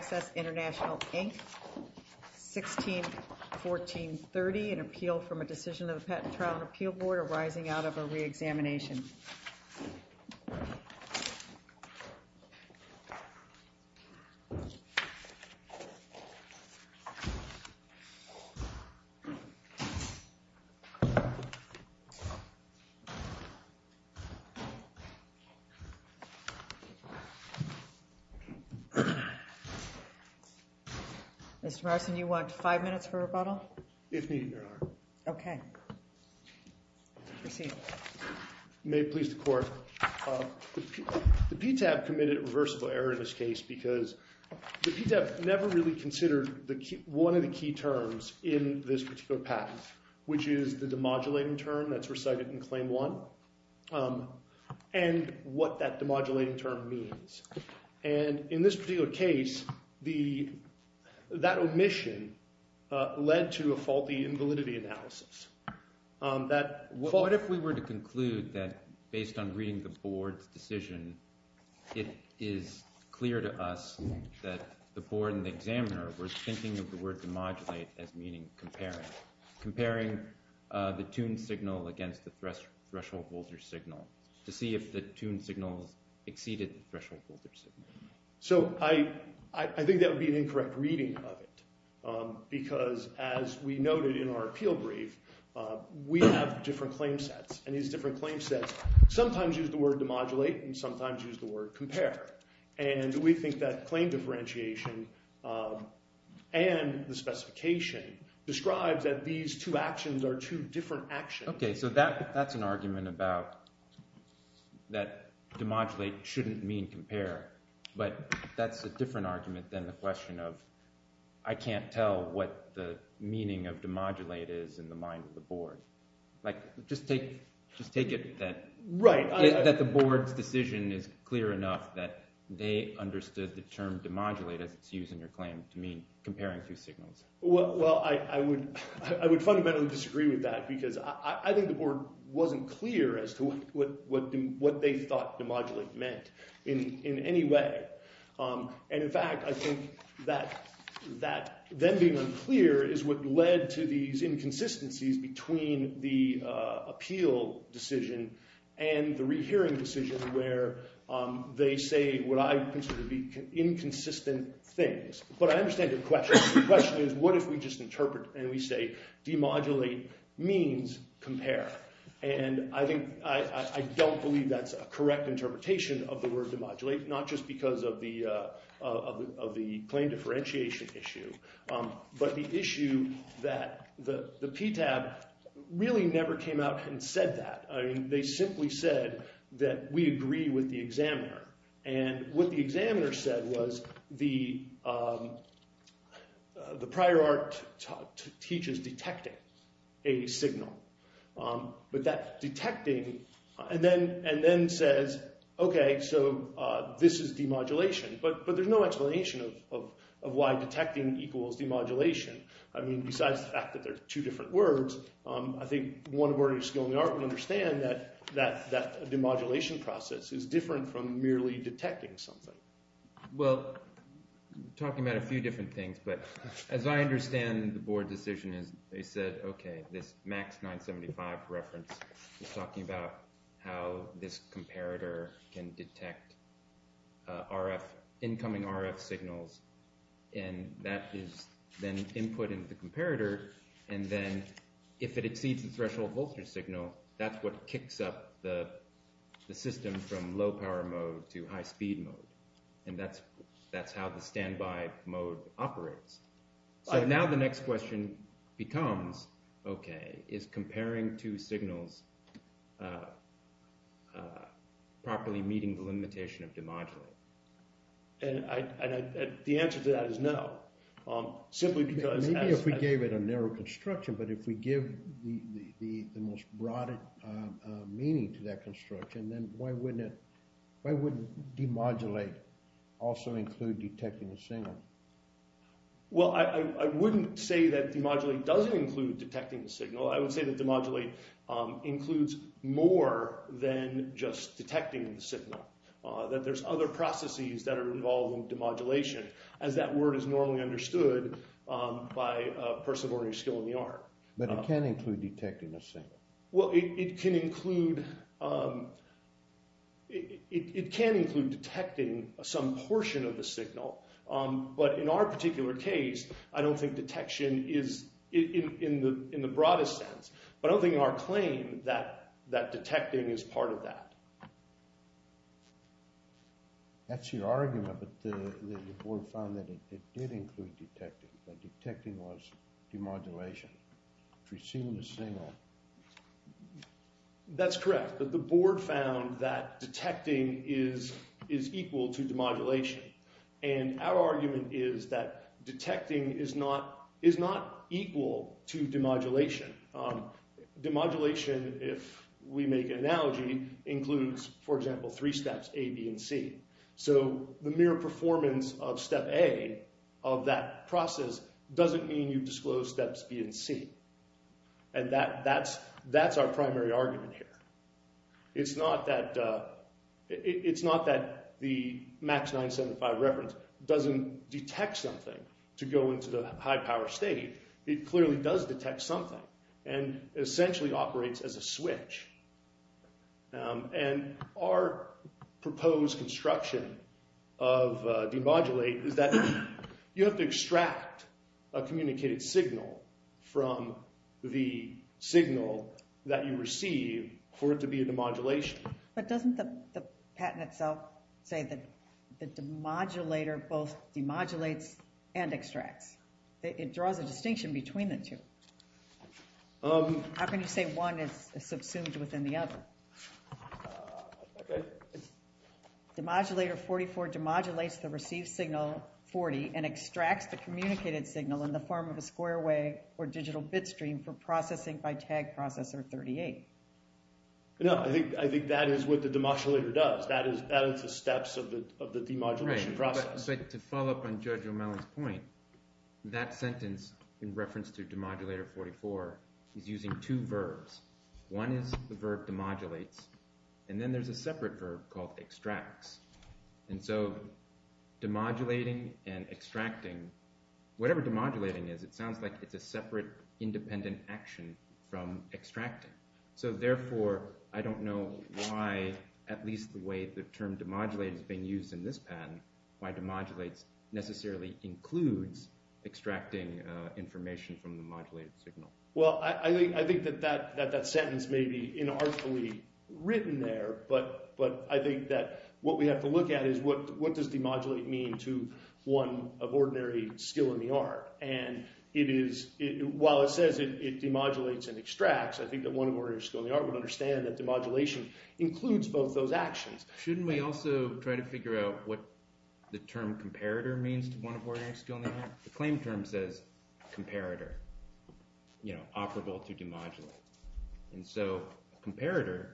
161430, an appeal from a decision of the Patent and Trial and Appeal Board arising out of a re-examination. Mr. Morrison, do you want five minutes for rebuttal? If needed, Your Honor. Okay. Proceed. May it please the Court. The PTAB committed a reversible error in this case because the PTAB never really considered one of the key terms in this particular patent, which is the demodulating term that's recited in Claim 1 and what that demodulating term means. And in this particular case, that omission led to a faulty invalidity analysis. What if we were to conclude that based on reading the Board's decision, it is clear to us that the Board and the examiner were thinking of the word demodulate as meaning comparing, comparing the tuned signal against the threshold voltage signal to see if the tuned signal exceeded the threshold voltage signal? So I think that would be an incorrect reading of it because, as we noted in our appeal brief, we have different claim sets. And these different claim sets sometimes use the word demodulate and sometimes use the word compare. And we think that claim differentiation and the specification describes that these two actions are two different actions. Okay, so that's an argument about that demodulate shouldn't mean compare, but that's a different argument than the question of I can't tell what the meaning of demodulate is in the mind of the Board. Just take it that the Board's decision is clear enough that they understood the term demodulate as it's used in your claim to mean comparing two signals. Well, I would fundamentally disagree with that because I think the Board wasn't clear as to what they thought demodulate meant in any way. And, in fact, I think that them being unclear is what led to these inconsistencies between the appeal decision and the rehearing decision where they say what I consider to be inconsistent things. But I understand your question. The question is what if we just interpret and we say demodulate means compare? And I don't believe that's a correct interpretation of the word demodulate, not just because of the claim differentiation issue, but the issue that the PTAB really never came out and said that. They simply said that we agree with the examiner. And what the examiner said was the prior art teaches detecting a signal. But that detecting and then says, okay, so this is demodulation. But there's no explanation of why detecting equals demodulation. I mean, besides the fact that they're two different words, I think one of our new skill in the art would understand that demodulation process is different from merely detecting something. Well, talking about a few different things, but as I understand the board decision is they said, okay, this max 975 reference is talking about how this comparator can detect incoming RF signals. And that is then input into the comparator. And then if it exceeds the threshold voltage signal, that's what kicks up the system from low power mode to high speed mode. And that's how the standby mode operates. So now the next question becomes, okay, is comparing two signals properly meeting the limitation of demodulate? And the answer to that is no. Simply because… Maybe if we gave it a narrow construction, but if we give the most broad meaning to that construction, then why wouldn't demodulate also include detecting the signal? Well, I wouldn't say that demodulate doesn't include detecting the signal. I would say that demodulate includes more than just detecting the signal. That there's other processes that are involved in demodulation, as that word is normally understood by a person of ordinary skill in the art. But it can include detecting the signal. Well, it can include detecting some portion of the signal. But in our particular case, I don't think detection is in the broadest sense. But I don't think in our claim that detecting is part of that. That's your argument that the board found that it did include detecting, that detecting was demodulation. If we've seen the signal… That's correct. But the board found that detecting is equal to demodulation. And our argument is that detecting is not equal to demodulation. Demodulation, if we make an analogy, includes, for example, three steps, A, B, and C. So the mere performance of step A of that process doesn't mean you've disclosed steps B and C. And that's our primary argument here. It's not that the MAX 975 reference doesn't detect something to go into the high-power state. It clearly does detect something and essentially operates as a switch. And our proposed construction of demodulate is that you have to extract a communicated signal from the signal that you receive for it to be a demodulation. But doesn't the patent itself say that the demodulator both demodulates and extracts? It draws a distinction between the two. How can you say one is subsumed within the other? Okay. Demodulator 44 demodulates the received signal 40 and extracts the communicated signal in the form of a square wave or digital bit stream for processing by tag processor 38. No, I think that is what the demodulator does. That is the steps of the demodulation process. So to follow up on Judge O'Malley's point, that sentence in reference to demodulator 44 is using two verbs. One is the verb demodulates, and then there's a separate verb called extracts. And so demodulating and extracting, whatever demodulating is, it sounds like it's a separate independent action from extracting. So therefore, I don't know why, at least the way the term demodulate is being used in this patent, why demodulates necessarily includes extracting information from the modulated signal. Well, I think that that sentence may be inarticulately written there, but I think that what we have to look at is what does demodulate mean to one of ordinary skill in the art? And while it says it demodulates and extracts, I think that one of ordinary skill in the art would understand that demodulation includes both those actions. Shouldn't we also try to figure out what the term comparator means to one of ordinary skill in the art? The claim term says comparator, operable to demodulate. And so comparator,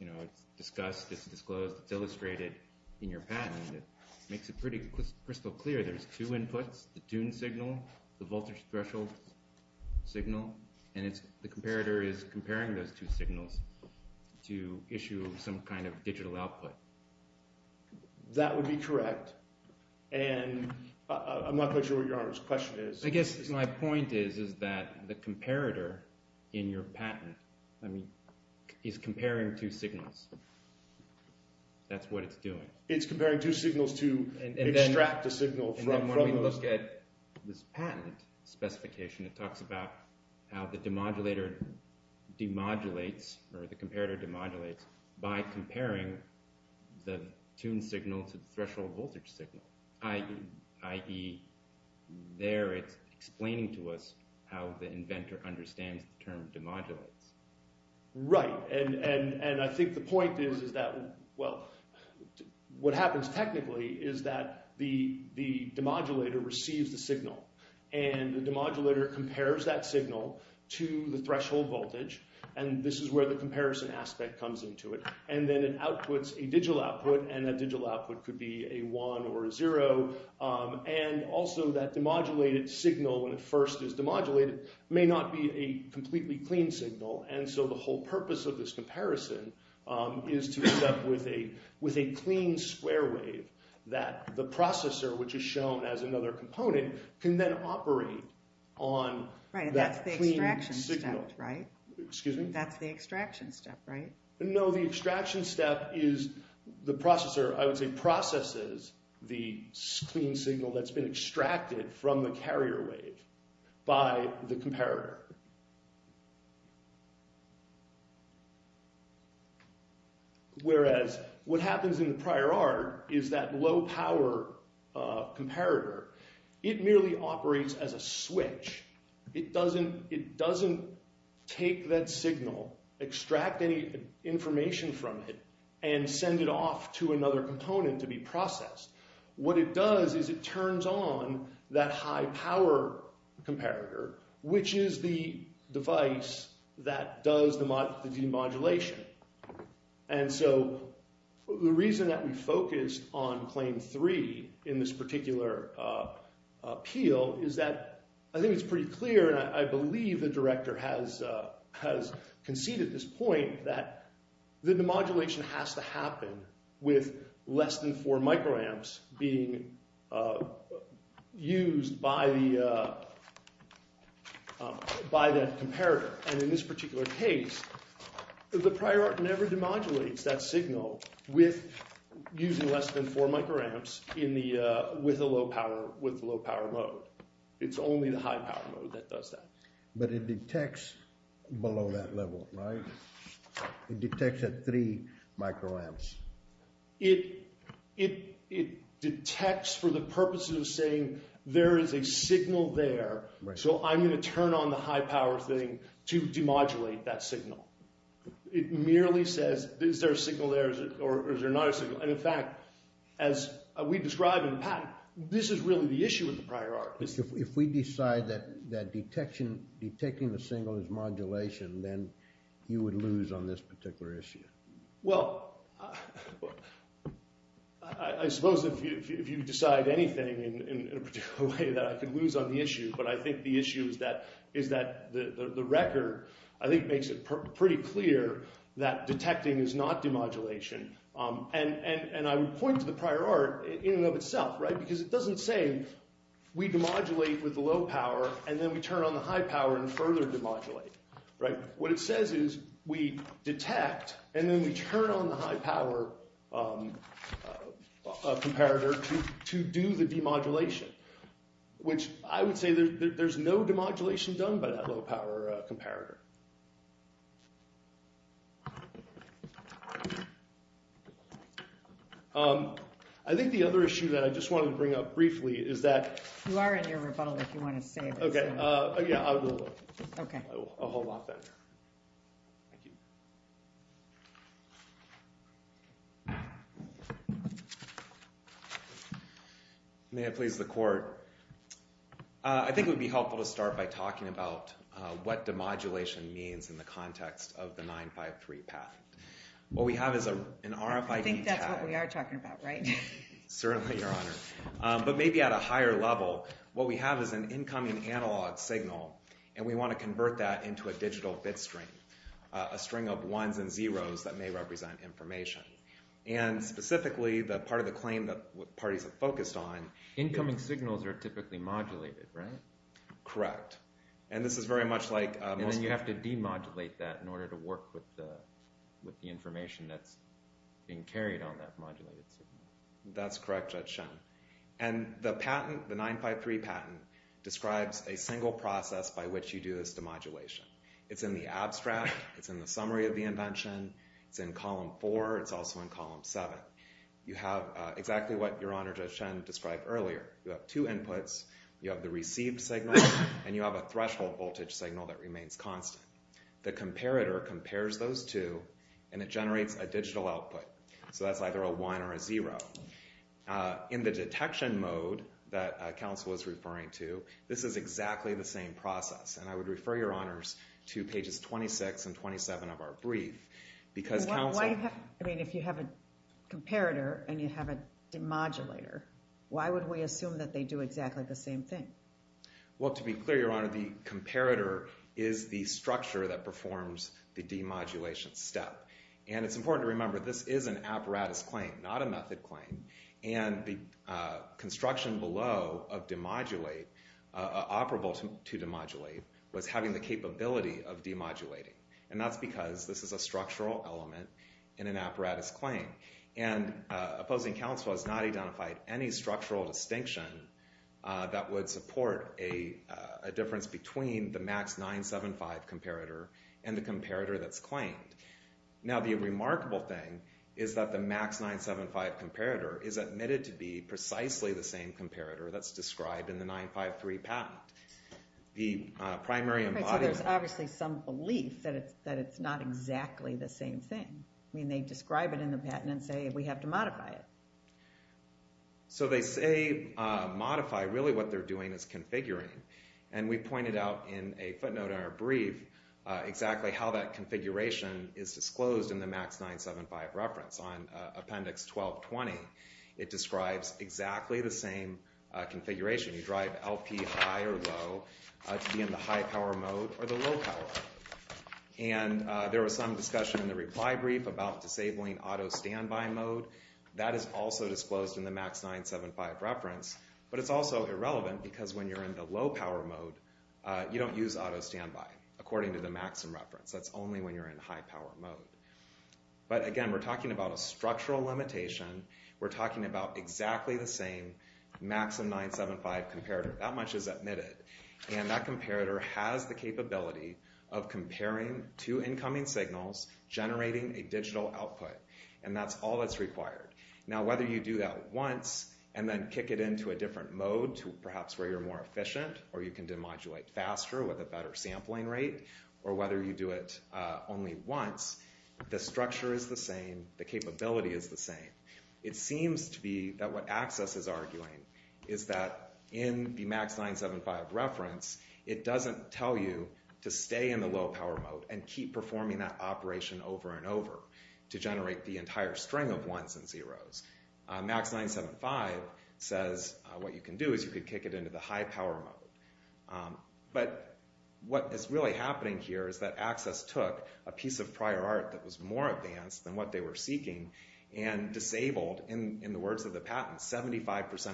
it's discussed, it's disclosed, it's illustrated in your patent. It makes it pretty crystal clear. There's two inputs, the tune signal, the voltage threshold signal, and the comparator is comparing those two signals to issue some kind of digital output. That would be correct, and I'm not quite sure what Your Honor's question is. I guess my point is that the comparator in your patent is comparing two signals. That's what it's doing. It's comparing two signals to extract a signal from those. And then when we look at this patent specification, it talks about how the demodulator demodulates or the comparator demodulates by comparing the tune signal to the threshold voltage signal, i.e. there it's explaining to us how the inventor understands the term demodulates. Right, and I think the point is that, well, what happens technically is that the demodulator receives the signal, and the demodulator compares that signal to the threshold voltage, and this is where the comparison aspect comes into it. And then it outputs a digital output, and that digital output could be a one or a zero, and also that demodulated signal, when it first is demodulated, may not be a completely clean signal. And so the whole purpose of this comparison is to end up with a clean square wave that the processor, which is shown as another component, can then operate on that clean signal. Right, and that's the extraction step, right? No, the extraction step is the processor, I would say, processes the clean signal that's been extracted from the carrier wave by the comparator. Whereas what happens in the prior art is that low power comparator, it merely operates as a switch. It doesn't take that signal, extract any information from it, and send it off to another component to be processed. What it does is it turns on that high power comparator, which is the device that does the demodulation. And so the reason that we focused on claim three in this particular appeal is that I think it's pretty clear, and I believe the director has conceded this point, that the demodulation has to happen with less than four microamps being used by the comparator. And in this particular case, the prior art never demodulates that signal using less than four microamps with the low power mode. It's only the high power mode that does that. But it detects below that level, right? It detects at three microamps. It detects for the purposes of saying, there is a signal there, so I'm going to turn on the high power thing to demodulate that signal. It merely says, is there a signal there or is there not a signal? And in fact, as we describe in the patent, this is really the issue with the prior art. If we decide that detecting the signal is modulation, then you would lose on this particular issue. Well, I suppose if you decide anything in a particular way that I could lose on the issue. But I think the issue is that the record, I think, makes it pretty clear that detecting is not demodulation. And I would point to the prior art in and of itself, right? Because it doesn't say we demodulate with the low power and then we turn on the high power and further demodulate. What it says is we detect and then we turn on the high power comparator to do the demodulation. Which I would say there's no demodulation done by that low power comparator. I think the other issue that I just wanted to bring up briefly is that... You are in your rebuttal if you want to say this. Okay. I will hold off then. May it please the court. I think it would be helpful to start by talking about what demodulation means in the context of the 953 patent. What we have is an RFID tag. I think that's what we are talking about, right? Certainly, Your Honor. But maybe at a higher level. What we have is an incoming analog signal and we want to convert that into a digital bit string. A string of ones and zeros that may represent information. And specifically, the part of the claim that parties have focused on... Incoming signals are typically modulated, right? Correct. And this is very much like... And then you have to demodulate that in order to work with the information that's being carried on that modulated signal. That's correct, Judge Shen. And the patent, the 953 patent, describes a single process by which you do this demodulation. It's in the abstract. It's in the summary of the invention. It's in column 4. It's also in column 7. You have exactly what Your Honor Judge Shen described earlier. You have two inputs. You have the received signal and you have a threshold voltage signal that remains constant. The comparator compares those two and it generates a digital output. So that's either a one or a zero. In the detection mode that counsel is referring to, this is exactly the same process. And I would refer Your Honors to pages 26 and 27 of our brief because counsel... I mean, if you have a comparator and you have a demodulator, why would we assume that they do exactly the same thing? Well, to be clear, Your Honor, the comparator is the structure that performs the demodulation step. And it's important to remember this is an apparatus claim, not a method claim. And the construction below of demodulate, operable to demodulate, was having the capability of demodulating. And that's because this is a structural element in an apparatus claim. And opposing counsel has not identified any structural distinction that would support a difference between the MAX 975 comparator and the comparator that's claimed. Now, the remarkable thing is that the MAX 975 comparator is admitted to be precisely the same comparator that's described in the 953 patent. So there's obviously some belief that it's not exactly the same thing. I mean, they describe it in the patent and say we have to modify it. So they say modify, really what they're doing is configuring. And we pointed out in a footnote in our brief exactly how that configuration is disclosed in the MAX 975 reference. On Appendix 1220, it describes exactly the same configuration. You drive LP high or low to be in the high power mode or the low power mode. And there was some discussion in the reply brief about disabling auto standby mode. That is also disclosed in the MAX 975 reference. But it's also irrelevant because when you're in the low power mode, you don't use auto standby, according to the MAXM reference. That's only when you're in high power mode. But, again, we're talking about a structural limitation. We're talking about exactly the same MAXM 975 comparator. That much is admitted. And that comparator has the capability of comparing two incoming signals, generating a digital output. And that's all that's required. Now, whether you do that once and then kick it into a different mode to perhaps where you're more efficient or you can demodulate faster with a better sampling rate, or whether you do it only once, the structure is the same. The capability is the same. It seems to be that what Access is arguing is that in the MAX 975 reference, it doesn't tell you to stay in the low power mode and keep performing that operation over and over to generate the entire string of ones and zeros. MAX 975 says what you can do is you can kick it into the high power mode. But what is really happening here is that Access took a piece of prior art that was more advanced than what they were seeking and disabled, in the words of the patent, 75%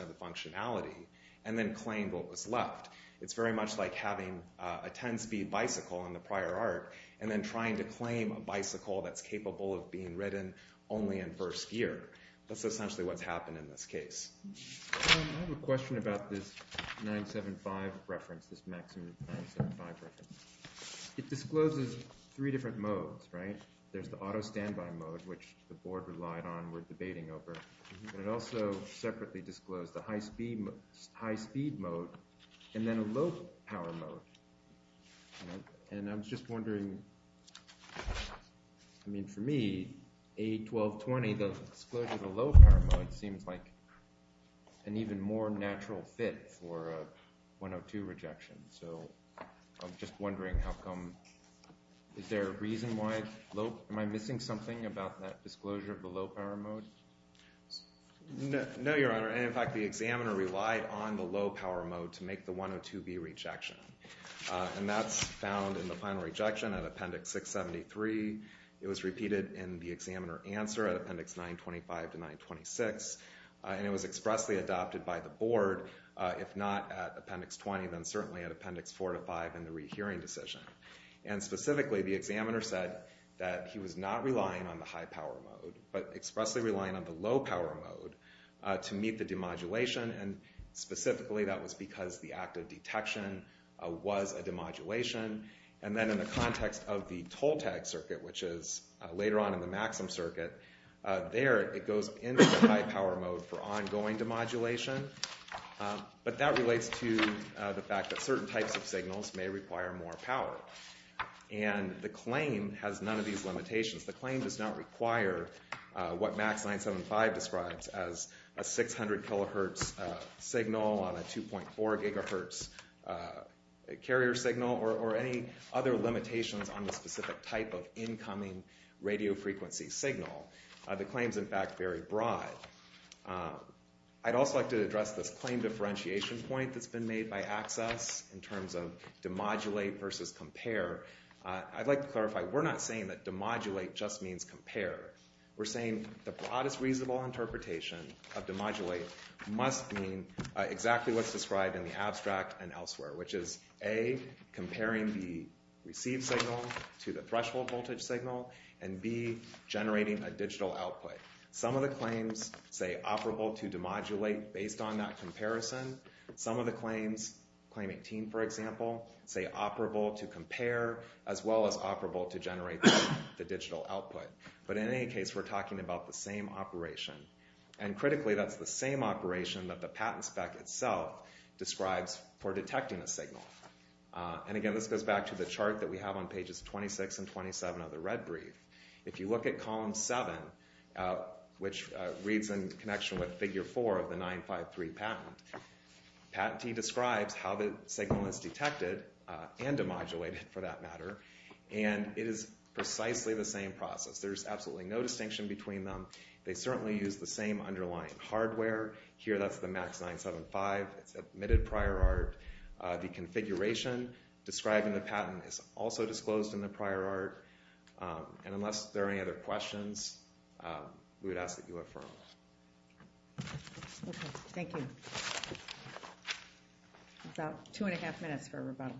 of the functionality and then claimed what was left. It's very much like having a 10-speed bicycle in the prior art and then trying to claim a bicycle that's capable of being ridden only in first gear. That's essentially what's happened in this case. I have a question about this 975 reference, this MAX 975 reference. It discloses three different modes, right? There's the auto standby mode, which the board relied on, we're debating over. But it also separately disclosed the high speed mode and then a low power mode. And I'm just wondering, I mean for me, A1220, the disclosure of the low power mode seems like an even more natural fit for a 102 rejection. So I'm just wondering how come, is there a reason why, am I missing something about that disclosure of the low power mode? No, Your Honor. And in fact, the examiner relied on the low power mode to make the 102B rejection. And that's found in the final rejection at Appendix 673. It was repeated in the examiner answer at Appendix 925 to 926. And it was expressly adopted by the board, if not at Appendix 20, then certainly at Appendix 4 to 5 in the rehearing decision. And specifically, the examiner said that he was not relying on the high power mode, but expressly relying on the low power mode to meet the demodulation. And specifically, that was because the active detection was a demodulation. And then in the context of the toll tag circuit, which is later on in the maximum circuit, there it goes into the high power mode for ongoing demodulation. But that relates to the fact that certain types of signals may require more power. And the claim has none of these limitations. The claim does not require what MAX 975 describes as a 600 kilohertz signal on a 2.4 gigahertz carrier signal or any other limitations on the specific type of incoming radio frequency signal. The claim is, in fact, very broad. I'd also like to address this claim differentiation point that's been made by ACCESS in terms of demodulate versus compare. I'd like to clarify, we're not saying that demodulate just means compare. We're saying the broadest reasonable interpretation of demodulate must mean exactly what's described in the abstract and elsewhere, which is A, comparing the received signal to the threshold voltage signal, and B, generating a digital output. Some of the claims say operable to demodulate based on that comparison. Some of the claims, claim 18, for example, say operable to compare as well as operable to generate the digital output. But in any case, we're talking about the same operation. And critically, that's the same operation that the patent spec itself describes for detecting a signal. And again, this goes back to the chart that we have on pages 26 and 27 of the red brief. If you look at column 7, which reads in connection with figure 4 of the 953 patent, patentee describes how the signal is detected and demodulated, for that matter, and it is precisely the same process. There's absolutely no distinction between them. They certainly use the same underlying hardware. Here, that's the MAX 975. It's admitted prior art. The configuration described in the patent is also disclosed in the prior art. And unless there are any other questions, we would ask that you affirm. Okay, thank you. About two and a half minutes for a rebuttal.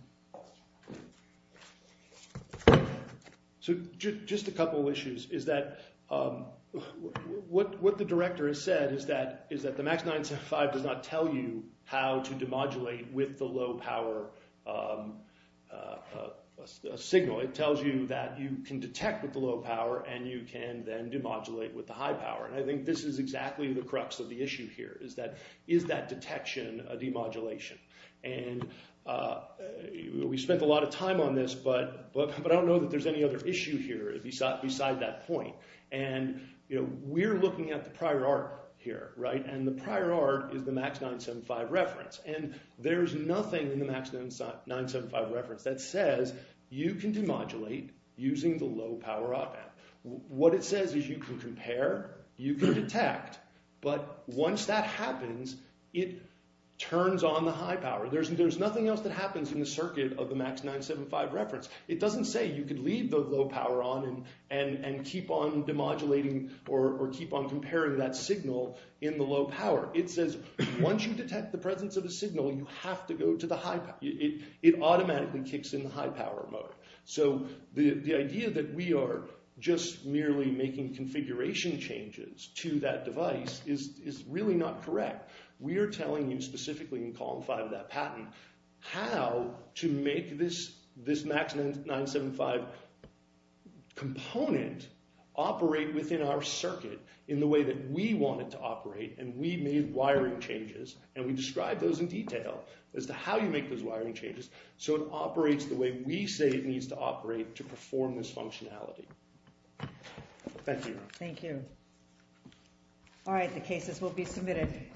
So just a couple issues is that what the director has said is that the MAX 975 does not tell you how to demodulate with the low power signal. It tells you that you can detect with the low power and you can then demodulate with the high power. And I think this is exactly the crux of the issue here is that is that detection a demodulation? And we spent a lot of time on this, but I don't know that there's any other issue here beside that point. And we're looking at the prior art here, right? And the prior art is the MAX 975 reference. And there's nothing in the MAX 975 reference that says you can demodulate using the low power op amp. What it says is you can compare, you can detect. But once that happens, it turns on the high power. There's nothing else that happens in the circuit of the MAX 975 reference. It doesn't say you could leave the low power on and keep on demodulating or keep on comparing that signal in the low power. It says once you detect the presence of a signal, you have to go to the high power. It automatically kicks in the high power mode. So the idea that we are just merely making configuration changes to that device is really not correct. We are telling you specifically in column 5 of that patent how to make this MAX 975 component operate within our circuit in the way that we want it to operate. And we made wiring changes, and we described those in detail as to how you make those wiring changes. So it operates the way we say it needs to operate to perform this functionality. Thank you. Thank you. All right. The cases will be submitted.